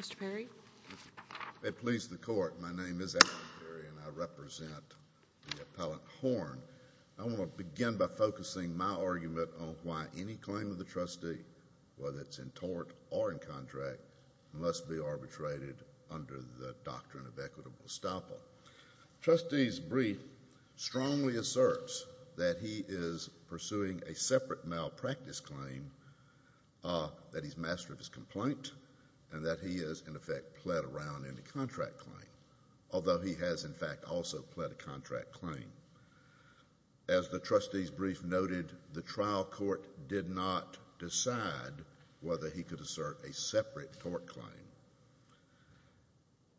Mr. Perry, I please the court, my name is Adam Perry and I represent the appellant Horn. I want to begin by focusing my argument on why any claim of the trustee, whether it's in tort or in contract, must be arbitrated under the doctrine of equitable estoppel. The trustee's brief strongly asserts that he is pursuing a separate malpractice claim, that he's master of his complaint, and that he has, in effect, pled around in a contract claim. Although he has, in fact, also pled a contract claim. As the trustee's brief noted, the trial court did not decide whether he could assert a separate tort claim.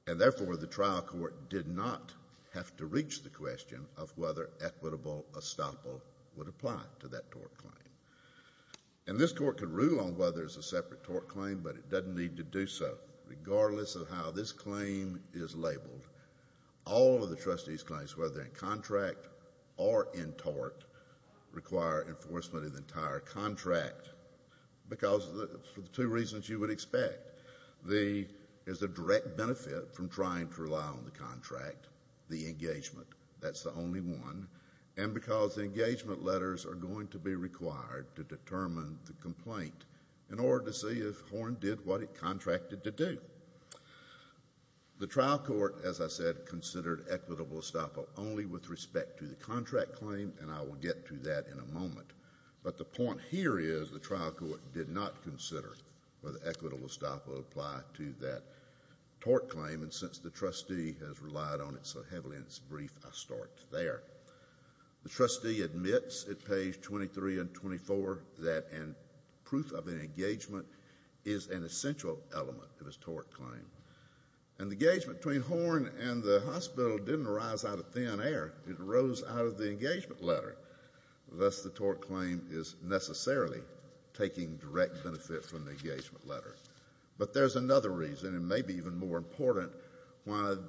And therefore, the trial court did not have to reach the question of whether equitable estoppel would apply to that tort claim. And this court could rule on whether it's a separate tort claim, but it doesn't need to do so, regardless of how this claim is labeled. All of the trustee's claims, whether they're in contract or in tort, require enforcement of the entire contract, because of the two reasons you would expect. There's a direct benefit from trying to rely on the contract, the engagement. That's the only one. And because the engagement letters are going to be required to determine the complaint, in order to see if Horn did what it contracted to do. The trial court, as I said, considered equitable estoppel only with respect to the contract claim, and I will get to that in a moment. But the point here is the trial court did not consider whether equitable estoppel would apply to that tort claim. And since the trustee has relied on it so heavily in its brief, I'll start there. The trustee admits at page 23 and 24 that proof of an engagement is an essential element of his tort claim. And the engagement between Horn and the hospital didn't arise out of thin air. It arose out of the engagement letter. Thus, the tort claim is necessarily taking direct benefit from the engagement letter. But there's another reason, and maybe even more important, one of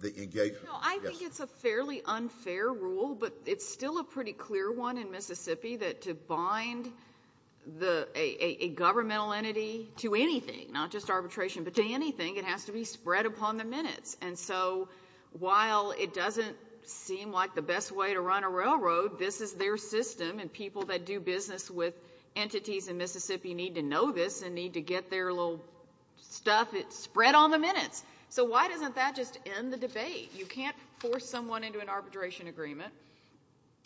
the engagement letters. No, I think it's a fairly unfair rule, but it's still a pretty clear one in Mississippi that to bind a governmental entity to anything, not just arbitration, but to anything, it has to be spread upon the minutes. And so while it doesn't seem like the best way to run a railroad, this is their system, and people that do business with entities in Mississippi need to know this and need to get their little stuff spread on the minutes. So why doesn't that just end the debate? You can't force someone into an arbitration agreement,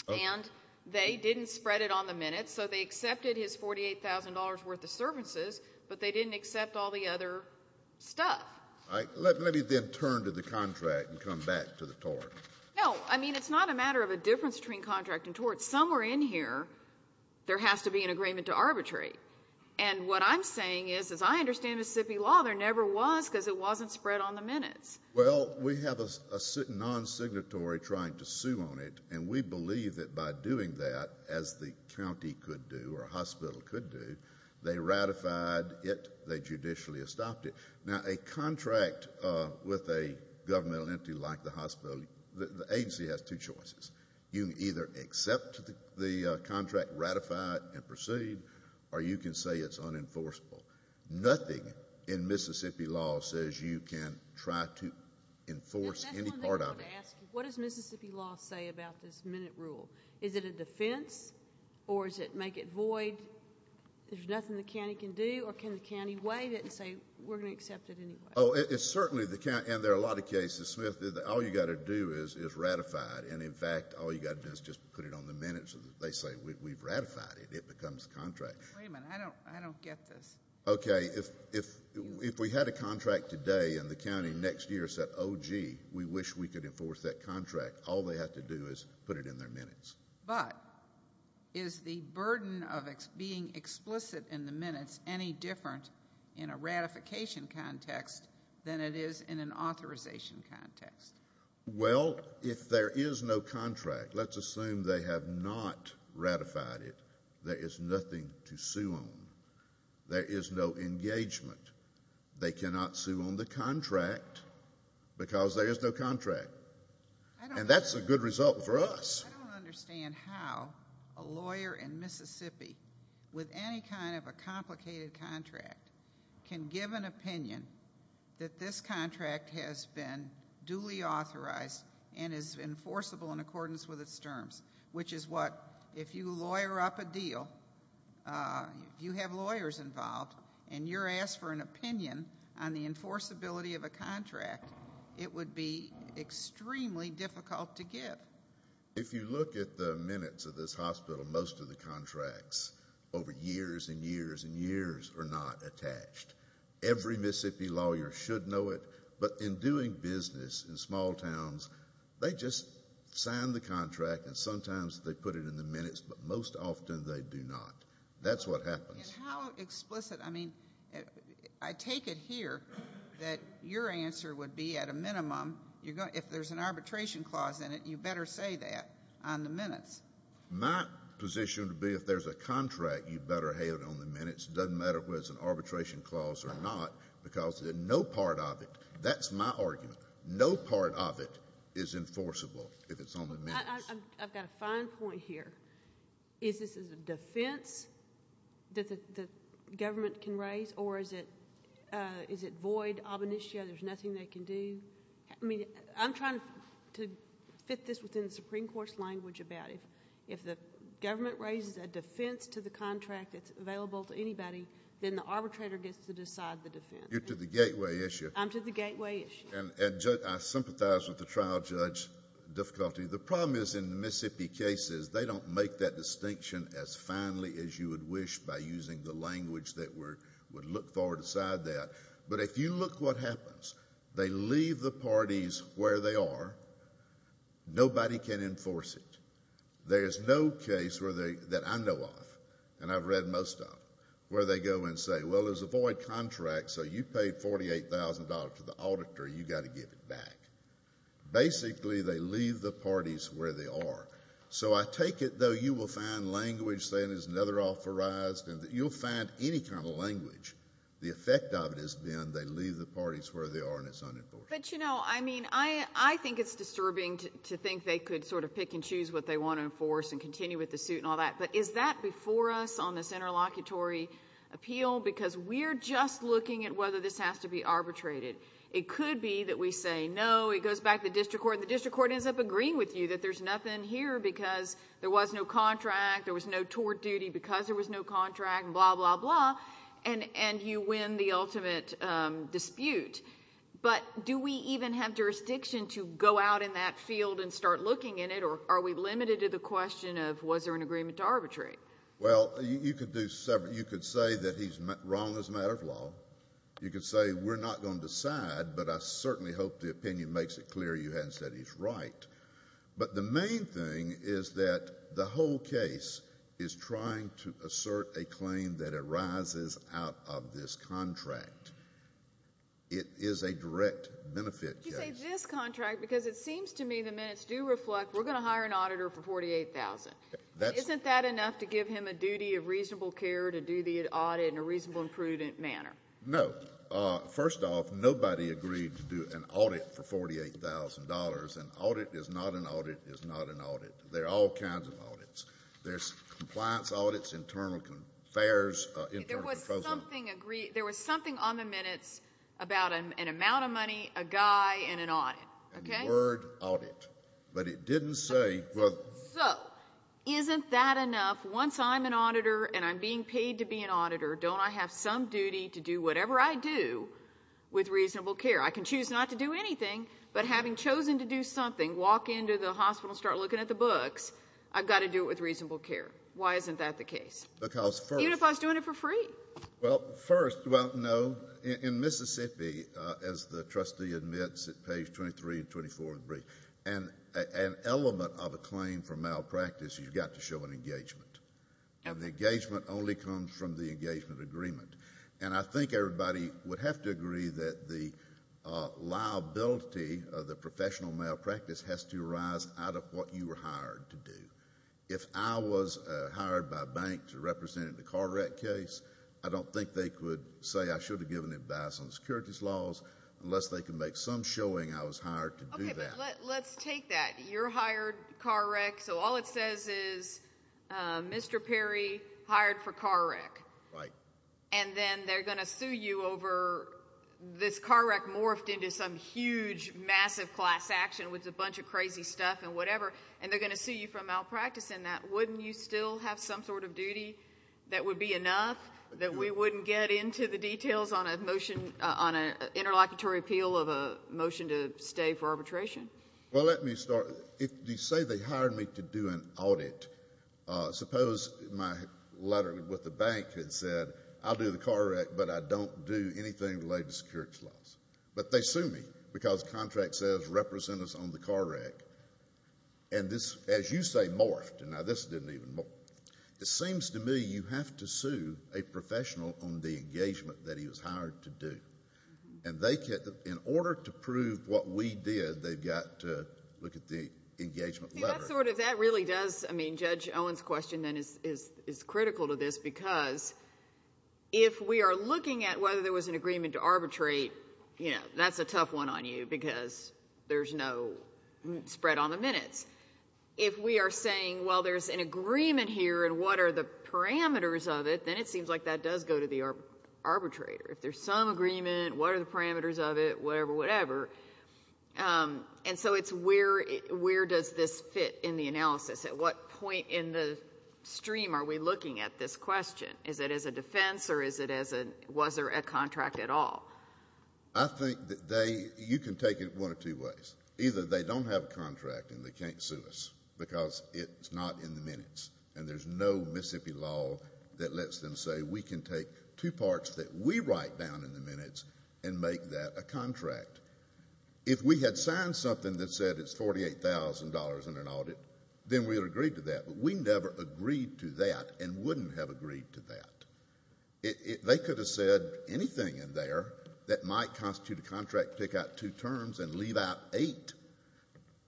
and they didn't spread it on the minutes, so they accepted his $48,000 worth of services, but they didn't accept all the other stuff. Let me then turn to the contract and come back to the tort. No, I mean, it's not a matter of a difference between contract and tort. Somewhere in here, there has to be an agreement to arbitrate. And what I'm saying is, as I understand Mississippi law, there never was because it wasn't spread on the minutes. Well, we have a non-signatory trying to sue on it, and we believe that by doing that, as the county could do or a hospital could do, they ratified it, they judicially stopped it. Now, a contract with a governmental entity like the hospital, the agency has two choices. You can either accept the contract, ratify it, and proceed, or you can say it's unenforceable. Nothing in Mississippi law says you can try to enforce any part of it. What does Mississippi law say about this minute rule? Is it a defense, or does it make it void? There's nothing the county can do, or can the county waive it and say we're going to accept it anyway? Oh, it's certainly the county, and there are a lot of cases, Smith, that all you've got to do is ratify it. And, in fact, all you've got to do is just put it on the minutes, and they say we've ratified it. It becomes a contract. Wait a minute. I don't get this. Okay. If we had a contract today and the county next year said, oh, gee, we wish we could enforce that contract, all they have to do is put it in their minutes. But is the burden of being explicit in the minutes any different in a ratification context than it is in an authorization context? Well, if there is no contract, let's assume they have not ratified it, there is nothing to sue on. There is no engagement. They cannot sue on the contract because there is no contract. And that's a good result for us. I don't understand how a lawyer in Mississippi with any kind of a complicated contract can give an opinion that this contract has been duly authorized and is enforceable in accordance with its terms, which is what if you lawyer up a deal, if you have lawyers involved, and you're asked for an opinion on the enforceability of a contract, it would be extremely difficult to give. If you look at the minutes of this hospital, most of the contracts over years and years and years are not attached. Every Mississippi lawyer should know it. But in doing business in small towns, they just sign the contract and sometimes they put it in the minutes, but most often they do not. That's what happens. And how explicit? I mean, I take it here that your answer would be at a minimum, if there's an arbitration clause in it, you better say that on the minutes. My position would be if there's a contract, you better have it on the minutes. It doesn't matter whether it's an arbitration clause or not because no part of it, that's my argument, no part of it is enforceable if it's on the minutes. I've got a fine point here. Is this a defense that the government can raise, or is it void, ob initio, there's nothing they can do? I mean, I'm trying to fit this within the Supreme Court's language about if the government raises a defense to the contract that's available to anybody, then the arbitrator gets to decide the defense. You're to the gateway issue. I'm to the gateway issue. And I sympathize with the trial judge difficulty. The problem is in Mississippi cases, they don't make that distinction as finely as you would wish by using the language that would look far beside that. But if you look what happens, they leave the parties where they are. Nobody can enforce it. There's no case that I know of, and I've read most of, where they go and say, well, there's a void contract, so you paid $48,000 to the auditor. You've got to give it back. Basically, they leave the parties where they are. So I take it, though, you will find language saying there's another authorized, and you'll find any kind of language, the effect of it is then they leave the parties where they are and it's unenforced. But, you know, I mean, I think it's disturbing to think they could sort of pick and choose what they want to enforce and continue with the suit and all that. But is that before us on this interlocutory appeal? Because we're just looking at whether this has to be arbitrated. It could be that we say no, it goes back to the district court, and the district court ends up agreeing with you that there's nothing here because there was no contract, there was no tort duty because there was no contract, blah, blah, blah, and you win the ultimate dispute. But do we even have jurisdiction to go out in that field and start looking in it, or are we limited to the question of was there an agreement to arbitrate? Well, you could say that he's wrong as a matter of law. You could say we're not going to decide, but I certainly hope the opinion makes it clear you hadn't said he's right. But the main thing is that the whole case is trying to assert a claim that arises out of this contract. It is a direct benefit case. You say this contract because it seems to me the minutes do reflect we're going to hire an auditor for $48,000. Isn't that enough to give him a duty of reasonable care to do the audit in a reasonable and prudent manner? No. First off, nobody agreed to do an audit for $48,000. An audit is not an audit is not an audit. There are all kinds of audits. There's compliance audits, internal fares, internal controls. There was something on the minutes about an amount of money, a guy, and an audit. And the word audit. But it didn't say whether. So isn't that enough? Once I'm an auditor and I'm being paid to be an auditor, don't I have some duty to do whatever I do with reasonable care? I can choose not to do anything, but having chosen to do something, walk into the hospital and start looking at the books, I've got to do it with reasonable care. Why isn't that the case? Because first of all. Even if I was doing it for free. Well, first, well, no. In Mississippi, as the trustee admits at page 23 and 24 of the brief, an element of a claim for malpractice, you've got to show an engagement. And the engagement only comes from the engagement agreement. And I think everybody would have to agree that the liability of the professional malpractice has to arise out of what you were hired to do. If I was hired by a bank to represent in a car wreck case, I don't think they could say I should have given advice on securities laws unless they could make some showing I was hired to do that. Okay, but let's take that. You're hired car wreck, so all it says is Mr. Perry hired for car wreck. Right. And then they're going to sue you over this car wreck morphed into some huge, massive class action with a bunch of crazy stuff and whatever, and they're going to sue you for malpractice in that. Wouldn't you still have some sort of duty that would be enough that we wouldn't get into the details on a motion, on an interlocutory appeal of a motion to stay for arbitration? Well, let me start. If you say they hired me to do an audit, suppose my letter with the bank had said I'll do the car wreck, but I don't do anything related to securities laws. But they sue me because the contract says represent us on the car wreck. And this, as you say, morphed. Now, this didn't even morph. It seems to me you have to sue a professional on the engagement that he was hired to do. And in order to prove what we did, they've got to look at the engagement letter. See, that sort of, that really does, I mean, Judge Owen's question then is critical to this because if we are looking at whether there was an agreement to arbitrate, you know, that's a tough one on you because there's no spread on the minutes. If we are saying, well, there's an agreement here and what are the parameters of it, then it seems like that does go to the arbitrator. If there's some agreement, what are the parameters of it, whatever, whatever. And so it's where does this fit in the analysis? At what point in the stream are we looking at this question? Is it as a defense or is it as a, was there a contract at all? I think that they, you can take it one of two ways. Either they don't have a contract and they can't sue us because it's not in the minutes and there's no Mississippi law that lets them say we can take two parts that we write down in the minutes and make that a contract. If we had signed something that said it's $48,000 in an audit, then we would have agreed to that, but we never agreed to that and wouldn't have agreed to that. They could have said anything in there that might constitute a contract, pick out two terms and leave out eight.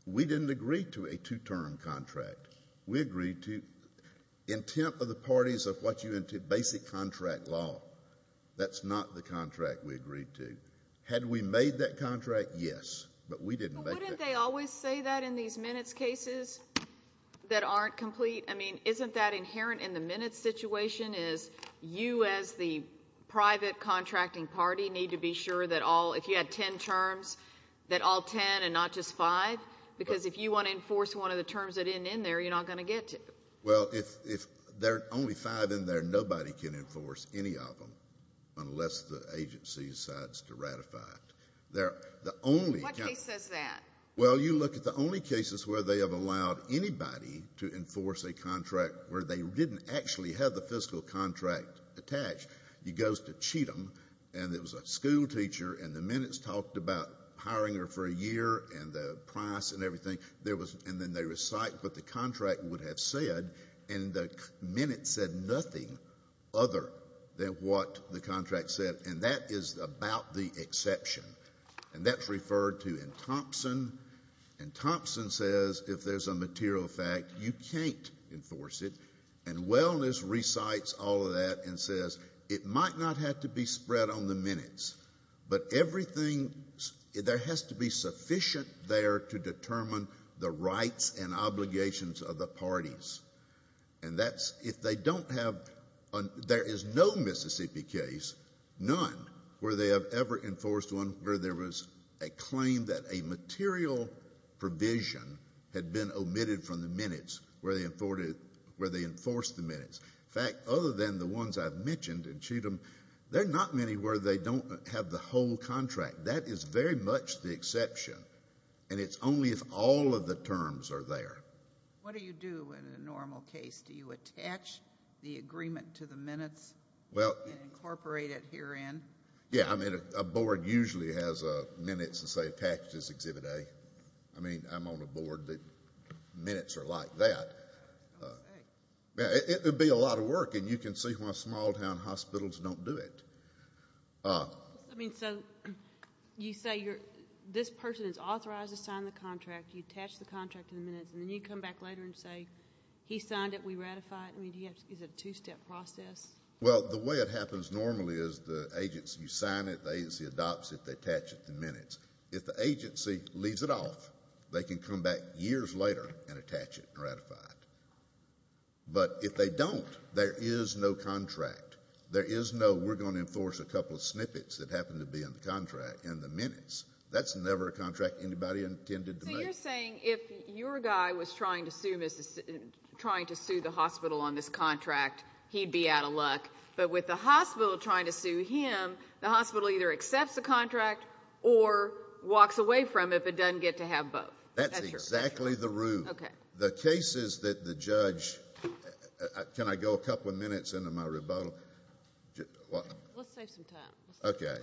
We didn't agree to a two-term contract. We agreed to intent of the parties of what you entered basic contract law. That's not the contract we agreed to. Had we made that contract, yes, but we didn't make that contract. But wouldn't they always say that in these minutes cases that aren't complete? I mean, isn't that inherent in the minutes situation, is you as the private contracting party need to be sure that all, if you had ten terms, that all ten and not just five? Because if you want to enforce one of the terms that end in there, you're not going to get to it. Well, if there are only five in there, nobody can enforce any of them unless the agency decides to ratify it. What case says that? Well, you look at the only cases where they have allowed anybody to enforce a contract where they didn't actually have the fiscal contract attached. He goes to cheat them, and it was a school teacher, and the minutes talked about hiring her for a year and the price and everything, and then they recite what the contract would have said, and the minutes said nothing other than what the contract said. And that is about the exception. And that's referred to in Thompson. And Thompson says if there's a material fact, you can't enforce it. And Wellness recites all of that and says it might not have to be spread on the minutes, but everything, there has to be sufficient there to determine the rights and obligations of the parties. And that's if they don't have, there is no Mississippi case, none, where they have ever enforced one where there was a claim that a material provision had been omitted from the minutes where they enforced the minutes. In fact, other than the ones I've mentioned in Cheatham, there are not many where they don't have the whole contract. That is very much the exception. And it's only if all of the terms are there. What do you do in a normal case? Do you attach the agreement to the minutes and incorporate it herein? Yeah. I mean, a board usually has minutes that say packages exhibit A. I mean, I'm on a board that minutes are like that. It would be a lot of work, and you can see why small town hospitals don't do it. I mean, so you say this person is authorized to sign the contract, you attach the contract to the minutes, and then you come back later and say, he signed it, we ratify it. I mean, is it a two-step process? Well, the way it happens normally is the agency, you sign it, the agency adopts it, they attach it to the minutes. If the agency leaves it off, they can come back years later and attach it and ratify it. But if they don't, there is no contract. There is no we're going to enforce a couple of snippets that happen to be in the contract in the minutes. That's never a contract anybody intended to make. So you're saying if your guy was trying to sue the hospital on this contract, he'd be out of luck. But with the hospital trying to sue him, the hospital either accepts the contract or walks away from it if it doesn't get to have both. That's exactly the rule. Okay. The case is that the judge, can I go a couple of minutes into my rebuttal? Let's save some time. Okay.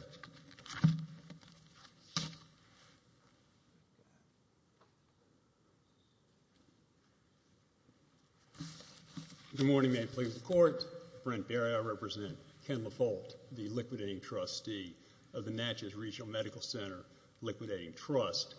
Good morning. Brent Berry. I represent Ken LaFolt, the liquidating trustee of the Natchez Regional Medical Center Liquidating Trust.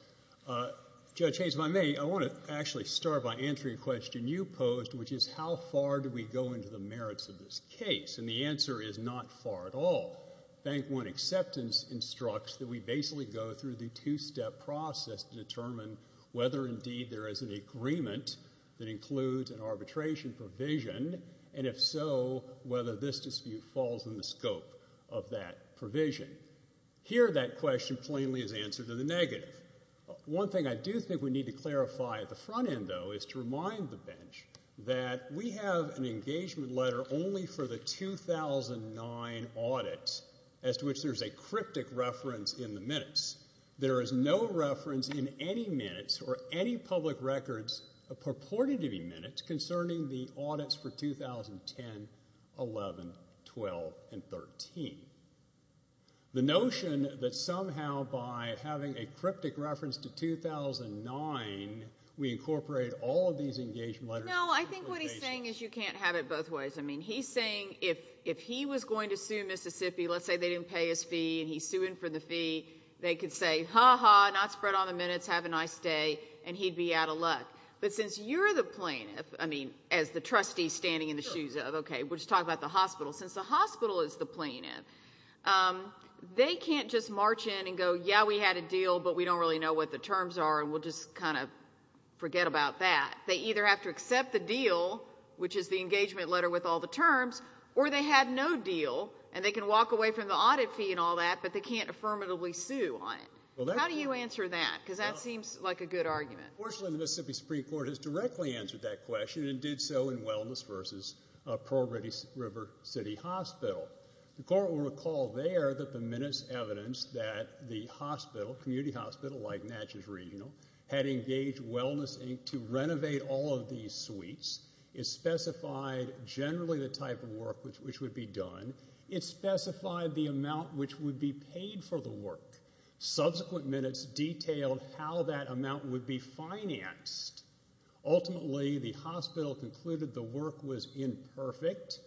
Judge Hayes, if I may, I want to actually start by answering a question you posed, which is how far do we go into the merits of this case? And the answer is not far at all. Bank One acceptance instructs that we basically go through the two-step process to determine whether indeed there is an agreement that includes an arbitration provision, and if so, whether this dispute falls in the scope of that provision. Here that question plainly is answered in the negative. One thing I do think we need to clarify at the front end, though, is to remind the bench that we have an engagement letter only for the 2009 audit, as to which there's a cryptic reference in the minutes. There is no reference in any minutes or any public records purported to be minutes concerning the audits for 2010, 11, 12, and 13. The notion that somehow by having a cryptic reference to 2009, we incorporate all of these engagement letters. No, I think what he's saying is you can't have it both ways. I mean, he's saying if he was going to sue Mississippi, let's say they didn't pay his fee and he's suing for the fee, they could say, ha-ha, not spread on the minutes, have a nice day, and he'd be out of luck. But since you're the plaintiff, I mean as the trustee standing in the shoes of, okay, we'll just talk about the hospital. Since the hospital is the plaintiff, they can't just march in and go, yeah, we had a deal, but we don't really know what the terms are and we'll just kind of forget about that. They either have to accept the deal, which is the engagement letter with all the terms, or they had no deal and they can walk away from the audit fee and all that, but they can't affirmatively sue on it. How do you answer that? Because that seems like a good argument. Fortunately, the Mississippi Supreme Court has directly answered that question and did so in Wellness v. Pearl River City Hospital. The court will recall there that the minutes evidence that the hospital, community hospital like Natchez Regional, had engaged Wellness, Inc. to renovate all of these suites. It specified generally the type of work which would be done. It specified the amount which would be paid for the work. Subsequent minutes detailed how that amount would be financed. Ultimately, the hospital concluded the work was imperfect,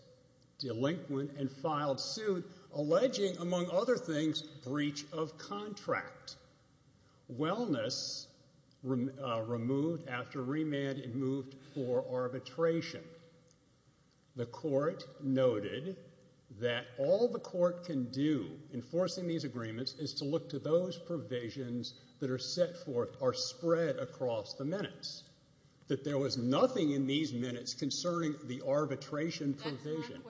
delinquent, and filed suit, alleging, among other things, breach of contract. Wellness removed after remand and moved for arbitration. The court noted that all the court can do, enforcing these agreements, is to look to those provisions that are set forth or spread across the minutes, that there was nothing in these minutes concerning the arbitration provision.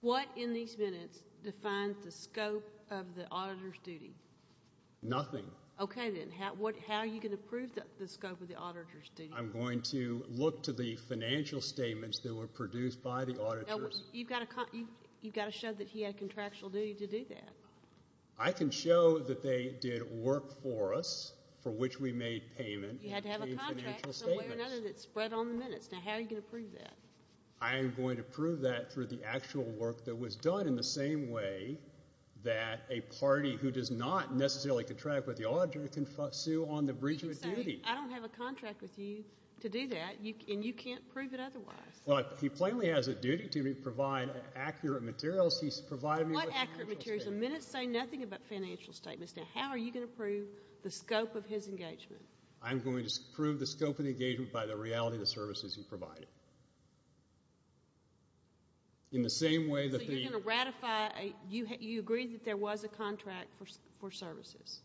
What in these minutes defines the scope of the auditor's duty? Nothing. Okay, then. How are you going to prove the scope of the auditor's duty? I'm going to look to the financial statements that were produced by the auditors. You've got to show that he had contractual duty to do that. I can show that they did work for us, for which we made payment. You had to have a contract in some way or another that spread on the minutes. Now, how are you going to prove that? I am going to prove that through the actual work that was done in the same way that a party who does not necessarily contract with the auditor can sue on the breach of duty. You can say, I don't have a contract with you to do that, and you can't prove it otherwise. Well, he plainly has a duty to provide accurate materials. He's providing me with financial statements. What accurate materials? The minutes say nothing about financial statements. Now, how are you going to prove the scope of his engagement? I'm going to prove the scope of the engagement by the reality of the services he provided. So you're going to ratify. You agreed that there was a contract for services.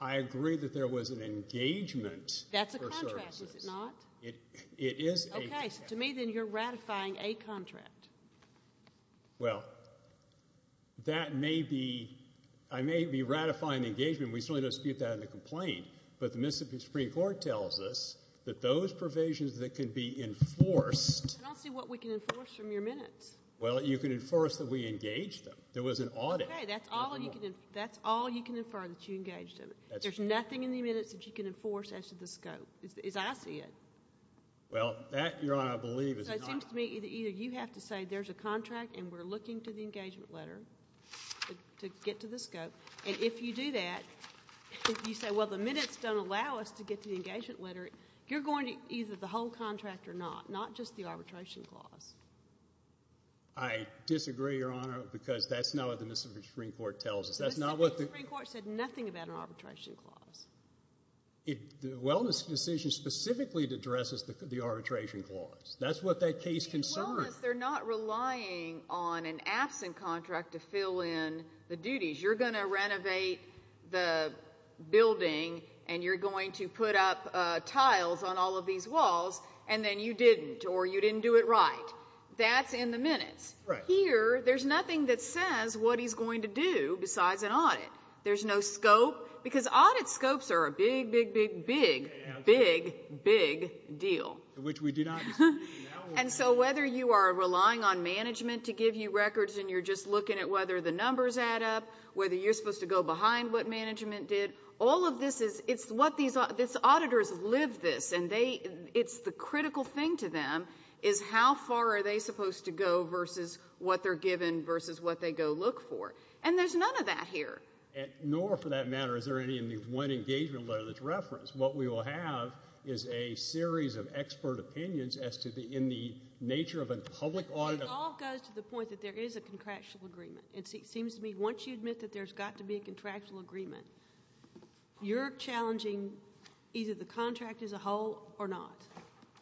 I agreed that there was an engagement for services. That's a contract, is it not? It is a contract. Okay, so to me, then, you're ratifying a contract. Well, that may be. I may be ratifying the engagement. We certainly don't dispute that in the complaint, but the Mississippi Supreme Court tells us that those provisions that can be enforced. I don't see what we can enforce from your minutes. Well, you can enforce that we engage them. There was an audit. Okay, that's all you can infer that you engaged in. There's nothing in the minutes that you can enforce as to the scope, as I see it. Well, that, Your Honor, I believe is not. So it seems to me that either you have to say there's a contract and we're looking to the engagement letter to get to the scope, and if you do that, if you say, well, the minutes don't allow us to get to the engagement letter, you're going to either the whole contract or not, not just the arbitration clause. I disagree, Your Honor, because that's not what the Mississippi Supreme Court tells us. Mississippi Supreme Court said nothing about an arbitration clause. The wellness decision specifically addresses the arbitration clause. That's what that case concerns. As long as they're not relying on an absent contract to fill in the duties, you're going to renovate the building and you're going to put up tiles on all of these walls, and then you didn't or you didn't do it right. That's in the minutes. Here, there's nothing that says what he's going to do besides an audit. There's no scope, because audit scopes are a big, big, big, big, big, big deal. Which we do not disagree. And so whether you are relying on management to give you records and you're just looking at whether the numbers add up, whether you're supposed to go behind what management did, all of this is what these auditors live this, and it's the critical thing to them is how far are they supposed to go versus what they're given versus what they go look for. And there's none of that here. Nor, for that matter, is there any in the one engagement letter that's referenced. What we will have is a series of expert opinions as to the nature of a public audit. It all goes to the point that there is a contractual agreement. It seems to me once you admit that there's got to be a contractual agreement, you're challenging either the contract as a whole or not.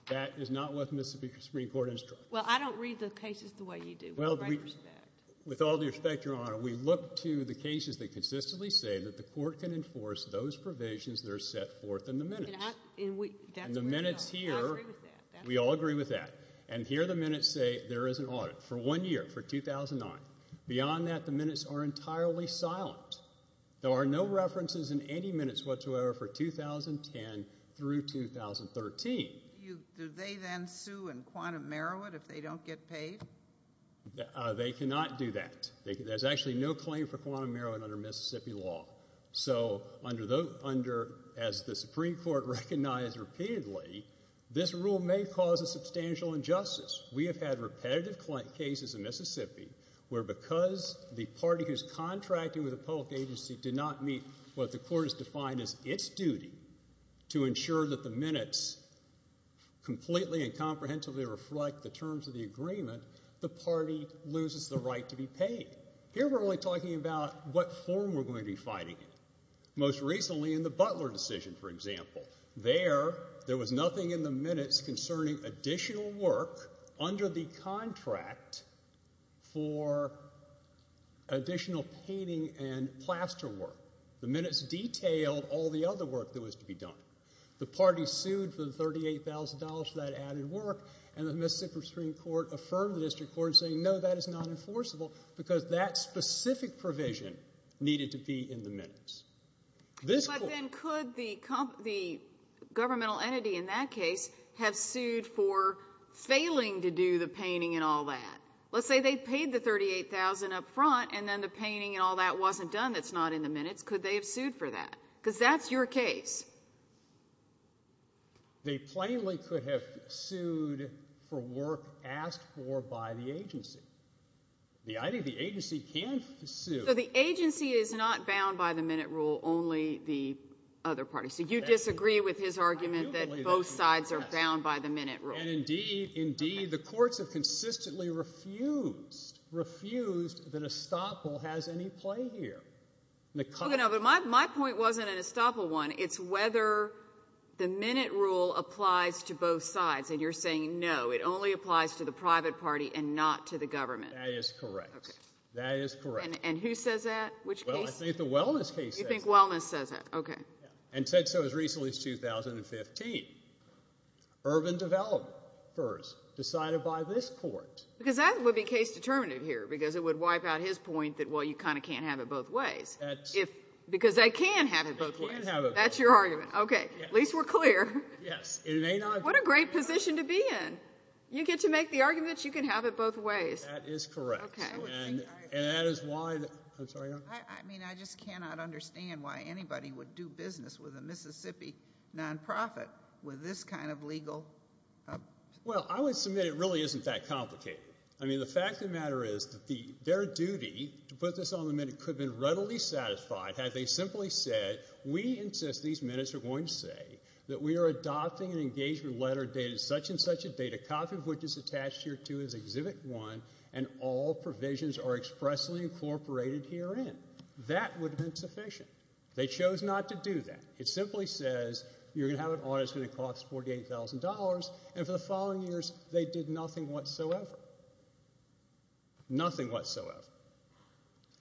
That is not what the Mississippi Supreme Court instructs. Well, I don't read the cases the way you do. With all due respect, Your Honor, we look to the cases that consistently say that the court can enforce those provisions that are set forth in the minutes. In the minutes here, we all agree with that. And here the minutes say there is an audit for one year, for 2009. Beyond that, the minutes are entirely silent. There are no references in any minutes whatsoever for 2010 through 2013. Do they then sue in quantum merit if they don't get paid? They cannot do that. There's actually no claim for quantum merit under Mississippi law. So as the Supreme Court recognized repeatedly, this rule may cause a substantial injustice. We have had repetitive cases in Mississippi where because the party who's contracting with a public agency did not meet what the court has defined as its duty to ensure that the minutes completely and comprehensively reflect the terms of the agreement, the party loses the right to be paid. Here we're only talking about what form we're going to be fighting it. Most recently in the Butler decision, for example. There, there was nothing in the minutes concerning additional work under the contract for additional painting and plaster work. The minutes detailed all the other work that was to be done. The party sued for the $38,000 for that added work, and the Mississippi Supreme Court affirmed the district court saying no, that is not enforceable because that specific provision needed to be in the minutes. But then could the governmental entity in that case have sued for failing to do the painting and all that? Let's say they paid the $38,000 up front, and then the painting and all that wasn't done that's not in the minutes. Could they have sued for that? Because that's your case. They plainly could have sued for work asked for by the agency. The agency can sue. So the agency is not bound by the minute rule, only the other party. So you disagree with his argument that both sides are bound by the minute rule. And indeed, indeed, the courts have consistently refused, refused that estoppel has any play here. My point wasn't an estoppel one. It's whether the minute rule applies to both sides, and you're saying no, it only applies to the private party and not to the government. That is correct. And who says that? Which case? Well, I think the wellness case says that. You think wellness says that. Okay. And said so as recently as 2015. Urban development first, decided by this court. Because that would be case determinative here because it would wipe out his point that, well, you kind of can't have it both ways. Because they can have it both ways. They can have it both ways. That's your argument. Okay. At least we're clear. Yes. What a great position to be in. You get to make the arguments. You can have it both ways. That is correct. Okay. And that is why the ‑‑ I'm sorry, Your Honor. I mean, I just cannot understand why anybody would do business with a Mississippi nonprofit with this kind of legal ‑‑ Well, I would submit it really isn't that complicated. I mean, the fact of the matter is that their duty to put this on the minute could have been readily satisfied had they simply said, we insist these minutes are going to say that we are adopting an engagement letter dated such and such a date, a copy of which is attached here too as Exhibit 1, and all provisions are expressly incorporated herein. That would have been sufficient. They chose not to do that. It simply says you're going to have it on. It's going to cost $48,000. And for the following years, they did nothing whatsoever. Nothing whatsoever.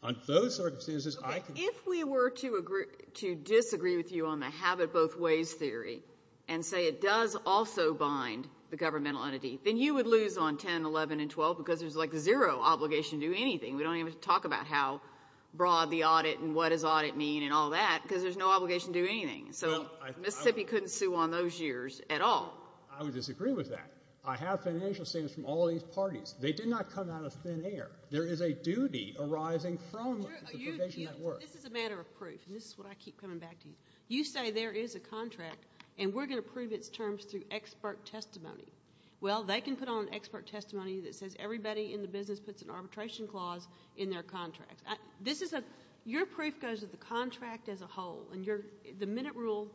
On those circumstances, I can ‑‑ Okay. If we were to disagree with you on the have it both ways theory and say it does also bind the governmental entity, then you would lose on 10, 11, and 12 because there's like zero obligation to do anything. We don't even have to talk about how broad the audit and what does audit mean and all that because there's no obligation to do anything. So Mississippi couldn't sue on those years at all. I would disagree with that. I have financial statements from all these parties. They did not come out of thin air. There is a duty arising from the provision that works. This is a matter of proof, and this is what I keep coming back to. You say there is a contract, and we're going to prove its terms through expert testimony. Well, they can put on expert testimony that says everybody in the business puts an arbitration clause in their contract. This is a ‑‑ your proof goes with the contract as a whole, and the minute rule,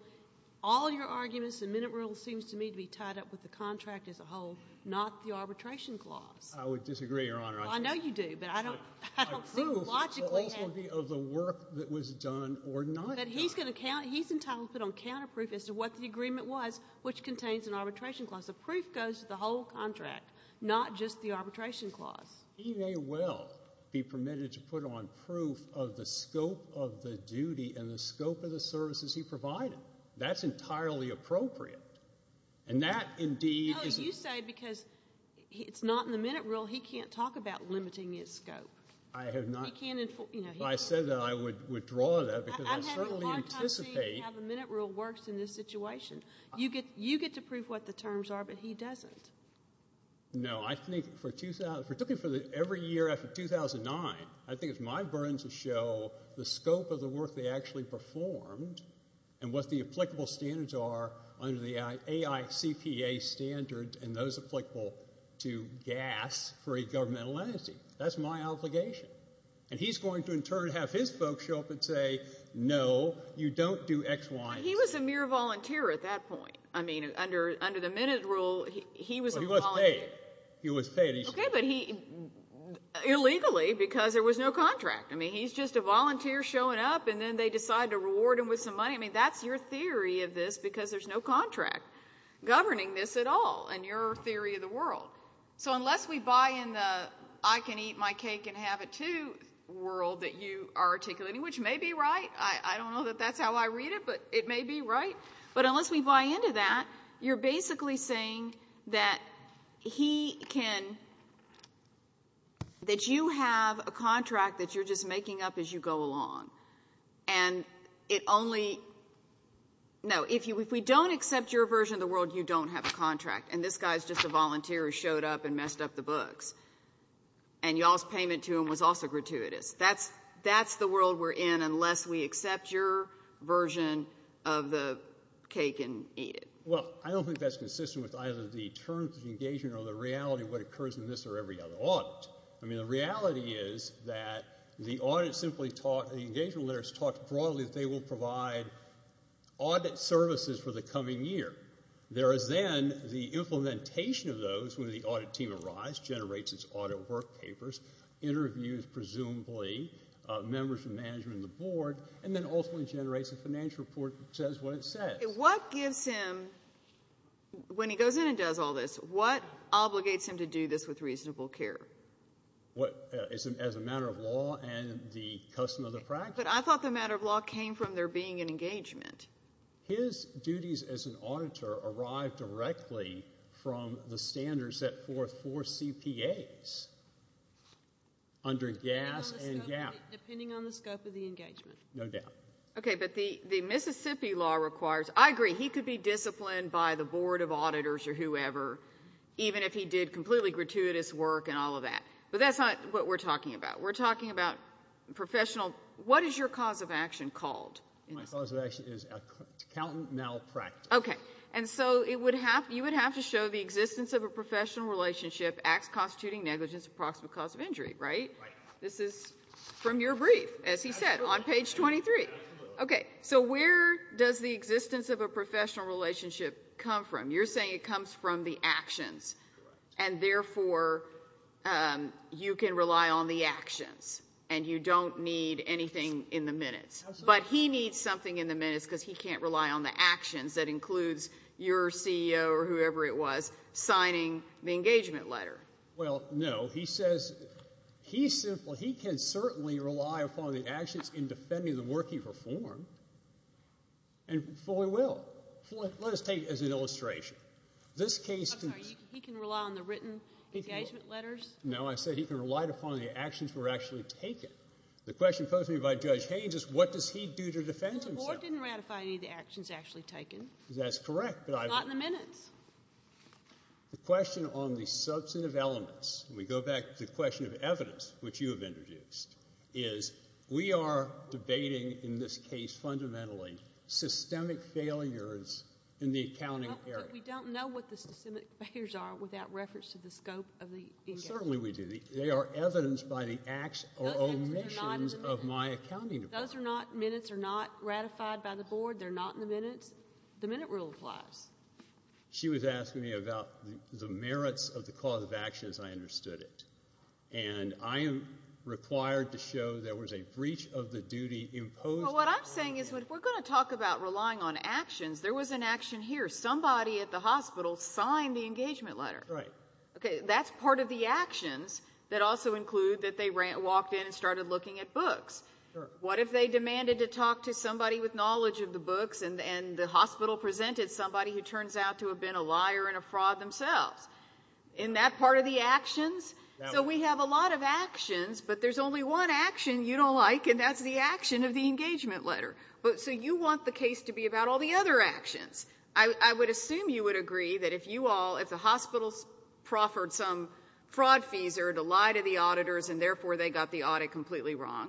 all your arguments, the minute rule seems to me to be tied up with the contract as a whole, not the arbitration clause. I would disagree, Your Honor. I know you do, but I don't think logically. My proof will also be of the work that was done or not done. He's entitled to put on counterproof as to what the agreement was, which contains an arbitration clause. The proof goes with the whole contract, not just the arbitration clause. He may well be permitted to put on proof of the scope of the duty and the scope of the services he provided. That's entirely appropriate. And that indeed is ‑‑ No, you say because it's not in the minute rule. He can't talk about limiting his scope. I have not. He can't inform ‑‑ If I said that, I would withdraw that because I certainly anticipate ‑‑ I'm having a hard time seeing how the minute rule works in this situation. You get to prove what the terms are, but he doesn't. No, I think for every year after 2009, I think it's my burden to show the scope of the work they actually performed and what the applicable standards are under the AICPA standard and those applicable to gas for a governmental entity. That's my obligation. And he's going to in turn have his folks show up and say, no, you don't do X, Y, and Z. He was a mere volunteer at that point. I mean, under the minute rule, he was a volunteer. Well, he was paid. He was paid. Okay, but illegally because there was no contract. I mean, he's just a volunteer showing up, and then they decide to reward him with some money. I mean, that's your theory of this because there's no contract governing this at all in your theory of the world. So unless we buy in the I-can-eat-my-cake-and-have-it-too world that you are articulating, which may be right. I don't know that that's how I read it, but it may be right. But unless we buy into that, you're basically saying that he can – that you have a contract that you're just making up as you go along, and it only – no, if we don't accept your version of the world, you don't have a contract, and this guy is just a volunteer who showed up and messed up the books, and y'all's payment to him was also gratuitous. That's the world we're in unless we accept your version of the cake and eat it. Well, I don't think that's consistent with either the terms of engagement or the reality of what occurs in this or every other audit. I mean, the reality is that the audit simply taught – the engagement lawyers taught broadly that they will provide audit services for the coming year. There is then the implementation of those when the audit team arrives, generates its audit work papers, interviews, presumably, members of management and the board, and then ultimately generates a financial report that says what it says. What gives him – when he goes in and does all this, what obligates him to do this with reasonable care? As a matter of law and the custom of the practice. But I thought the matter of law came from there being an engagement. His duties as an auditor arrived directly from the standards set forth for CPAs under gas and gap. Depending on the scope of the engagement. No doubt. Okay, but the Mississippi law requires – I agree, he could be disciplined by the board of auditors or whoever, even if he did completely gratuitous work and all of that. But that's not what we're talking about. We're talking about professional – what is your cause of action called? My cause of action is accountant malpractice. Okay, and so you would have to show the existence of a professional relationship, acts constituting negligence of proximate cause of injury, right? Right. This is from your brief, as he said, on page 23. Absolutely. Okay, so where does the existence of a professional relationship come from? You're saying it comes from the actions, and therefore you can rely on the actions and you don't need anything in the minutes. But he needs something in the minutes because he can't rely on the actions that includes your CEO or whoever it was signing the engagement letter. Well, no. He says he simply – he can certainly rely upon the actions in defending the work he performed and fully will. Let us take it as an illustration. This case – I'm sorry. He can rely on the written engagement letters? No, I said he can rely upon the actions were actually taken. The question posed to me by Judge Haynes is what does he do to defend himself? Well, the board didn't ratify any of the actions actually taken. That's correct, but I've – Not in the minutes. The question on the substantive elements, and we go back to the question of evidence, which you have introduced, is we are debating in this case fundamentally systemic failures in the accounting area. But we don't know what the systemic failures are without reference to the scope of the engagement. Certainly we do. They are evidenced by the acts or omissions of my accounting department. Those are not – minutes are not ratified by the board. They're not in the minutes. The minute rule applies. She was asking me about the merits of the cause of actions. I understood it. And I am required to show there was a breach of the duty imposed on me. Well, what I'm saying is if we're going to talk about relying on actions, there was an action here. Somebody at the hospital signed the engagement letter. Right. Okay, that's part of the actions that also include that they walked in and started looking at books. What if they demanded to talk to somebody with knowledge of the books and the hospital presented somebody who turns out to have been a liar and a fraud themselves? Isn't that part of the actions? So we have a lot of actions, but there's only one action you don't like, and that's the action of the engagement letter. So you want the case to be about all the other actions. I would assume you would agree that if you all, if the hospitals proffered some fraud fees or lied to the auditors and therefore they got the audit completely wrong,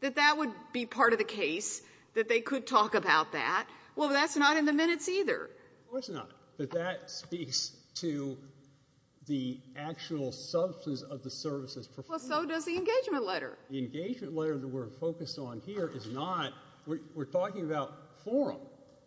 that that would be part of the case, that they could talk about that. Well, that's not in the minutes either. Of course not. But that speaks to the actual substance of the services performed. Well, so does the engagement letter. The engagement letter that we're focused on here is not. We're talking about forum.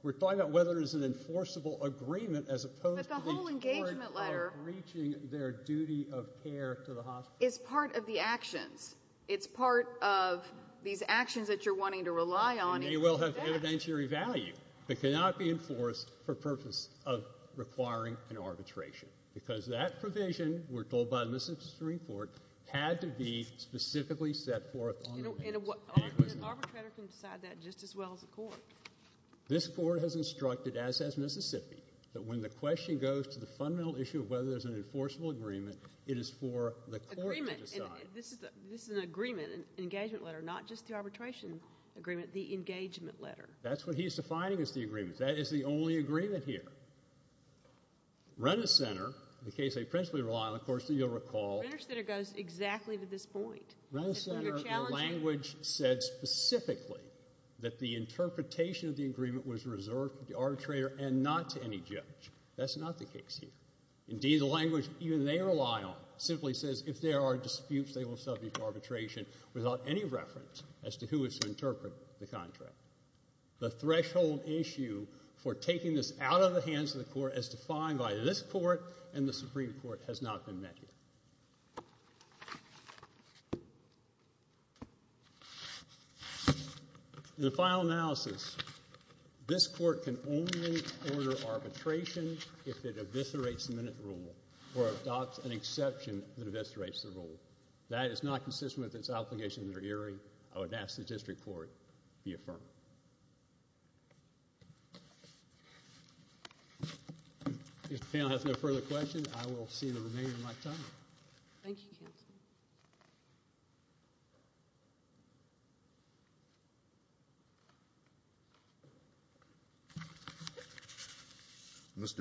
We're talking about whether there's an enforceable agreement as opposed to the court breaching their duty of care to the hospital. But the whole engagement letter is part of the actions. It's part of these actions that you're wanting to rely on. It may well have evidentiary value but cannot be enforced for purpose of requiring an arbitration because that provision, we're told by the Mississippi Supreme Court, had to be specifically set forth on the case. An arbitrator can decide that just as well as a court. This court has instructed, as has Mississippi, that when the question goes to the fundamental issue of whether there's an enforceable agreement, it is for the court to decide. This is an agreement, an engagement letter, not just the arbitration agreement, the engagement letter. That's what he's defining as the agreement. That is the only agreement here. Rent-a-Center, the case they principally rely on, of course you'll recall. Rent-a-Center goes exactly to this point. Rent-a-Center, their language said specifically that the interpretation of the agreement was reserved for the arbitrator and not to any judge. That's not the case here. Indeed, the language even they rely on simply says if there are disputes, they will subject to arbitration without any reference as to who is to interpret the contract. The threshold issue for taking this out of the hands of the court is defined by this court and the Supreme Court has not been met here. The final analysis. This court can only order arbitration if it eviscerates the minute rule or adopts an exception that eviscerates the rule. That is not consistent with its obligation to the jury. I would ask the district court to be affirmed. If the panel has no further questions, I will see the remainder of my time. Thank you, counsel.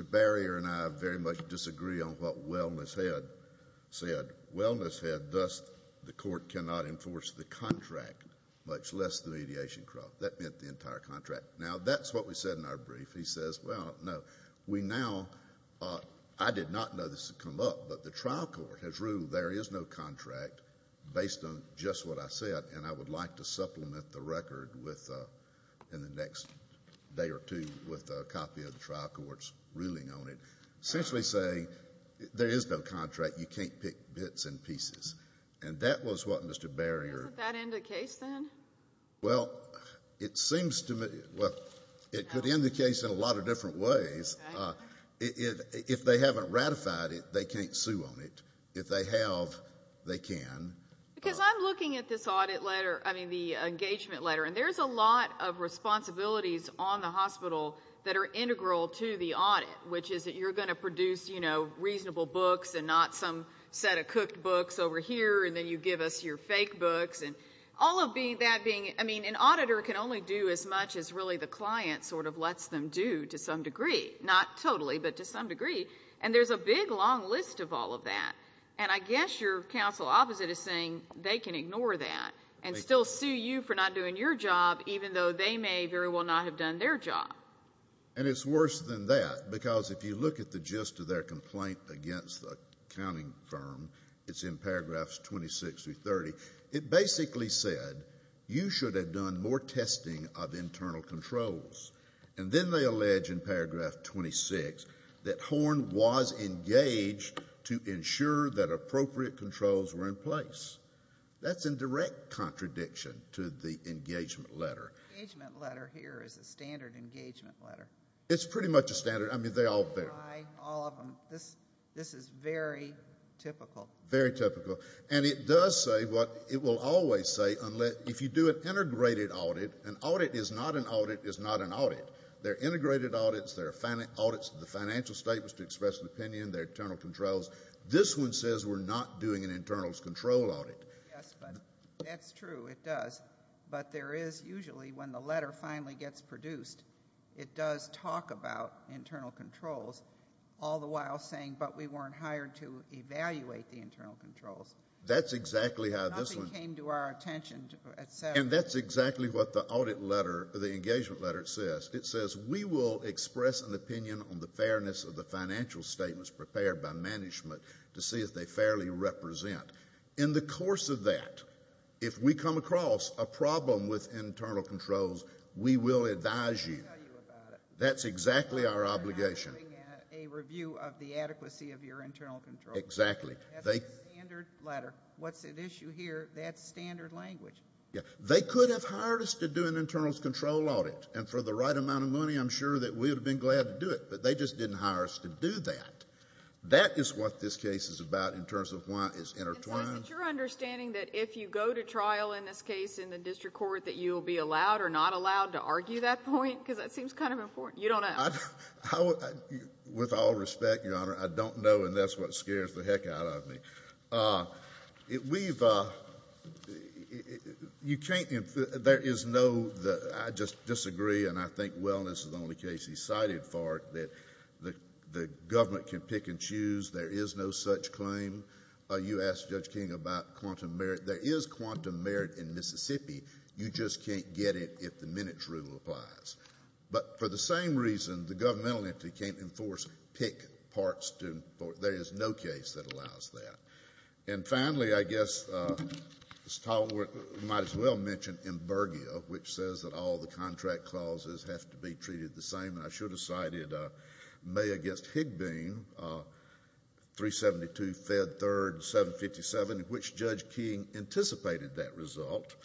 Mr. Barrier and I very much disagree on what Wellness said. Thus, the court cannot enforce the contract, much less the mediation crop. That meant the entire contract. Now, that's what we said in our brief. He says, well, no. We now, I did not know this had come up, but the trial court has ruled there is no contract based on just what I said, and I would like to supplement the record in the next day or two with a copy of the trial court's ruling on it. Essentially saying there is no contract. You can't pick bits and pieces. And that was what Mr. Barrier. Doesn't that end the case then? Well, it seems to me, well, it could end the case in a lot of different ways. If they haven't ratified it, they can't sue on it. If they have, they can. Because I'm looking at this audit letter, I mean the engagement letter, and there's a lot of responsibilities on the hospital that are integral to the audit, which is that you're going to produce, you know, reasonable books and not some set of cooked books over here, and then you give us your fake books, and all of that being, I mean, an auditor can only do as much as really the client sort of lets them do to some degree. Not totally, but to some degree. And there's a big, long list of all of that. And I guess your counsel opposite is saying they can ignore that and still sue you for not doing your job, even though they may very well not have done their job. And it's worse than that, because if you look at the gist of their complaint against the accounting firm, it's in paragraphs 26 through 30, it basically said, you should have done more testing of internal controls. And then they allege in paragraph 26 that Horne was engaged to ensure that appropriate controls were in place. That's in direct contradiction to the engagement letter. The engagement letter here is a standard engagement letter. It's pretty much a standard. I mean, they all fit. All of them. This is very typical. Very typical. And it does say what it will always say, if you do an integrated audit, an audit is not an audit is not an audit. They're integrated audits, they're audits of the financial statements to express an opinion, they're internal controls. This one says we're not doing an internals control audit. Yes, but that's true, it does. But there is usually, when the letter finally gets produced, it does talk about internal controls, all the while saying, but we weren't hired to evaluate the internal controls. That's exactly how this one. Nothing came to our attention, et cetera. And that's exactly what the audit letter, the engagement letter says. It says, we will express an opinion on the fairness of the financial statements prepared by management to see if they fairly represent. In the course of that, if we come across a problem with internal controls, we will advise you. We will tell you about it. That's exactly our obligation. We're not doing a review of the adequacy of your internal controls. Exactly. That's a standard letter. What's at issue here, that's standard language. They could have hired us to do an internals control audit, and for the right amount of money I'm sure that we would have been glad to do it, but they just didn't hire us to do that. That is what this case is about in terms of why it's intertwined. And so is it your understanding that if you go to trial in this case in the district court, that you will be allowed or not allowed to argue that point? Because that seems kind of important. You don't know. With all respect, Your Honor, I don't know, and that's what scares the heck out of me. We've, you can't, there is no, I just disagree, and I think wellness is the only case he cited for it, that the government can pick and choose. There is no such claim. You asked Judge King about quantum merit. There is quantum merit in Mississippi. You just can't get it if the minutes rule applies. But for the same reason, the governmental entity can't enforce pick parts to, there is no case that allows that. And finally, I guess we might as well mention emburgia, which says that all the contract clauses have to be treated the same. I should have cited May against Higboon, 372 Fed 3rd, 757, which Judge King anticipated that result.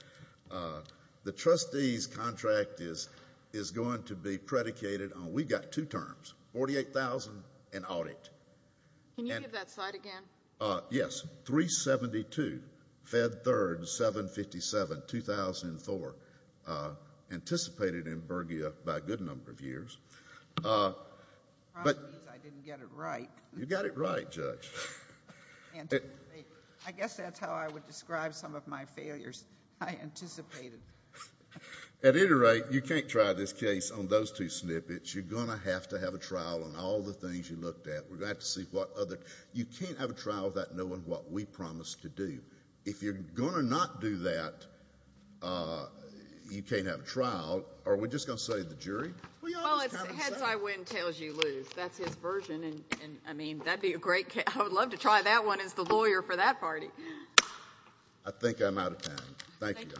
The trustee's contract is going to be predicated on, we've got two terms, 48,000 and audit. Can you give that slide again? Yes, 372 Fed 3rd, 757, 2004, anticipated emburgia by a good number of years. The problem is I didn't get it right. You got it right, Judge. I guess that's how I would describe some of my failures. I anticipated. At any rate, you can't try this case on those two snippets. You're going to have to have a trial on all the things you looked at. You can't have a trial without knowing what we promised to do. If you're going to not do that, you can't have a trial. Are we just going to say the jury? Well, it's heads I win, tails you lose. That's his version. And, I mean, that would be a great case. I would love to try that one as the lawyer for that party. I think I'm out of time. Thank you, Your Honor. Thank you, counsel.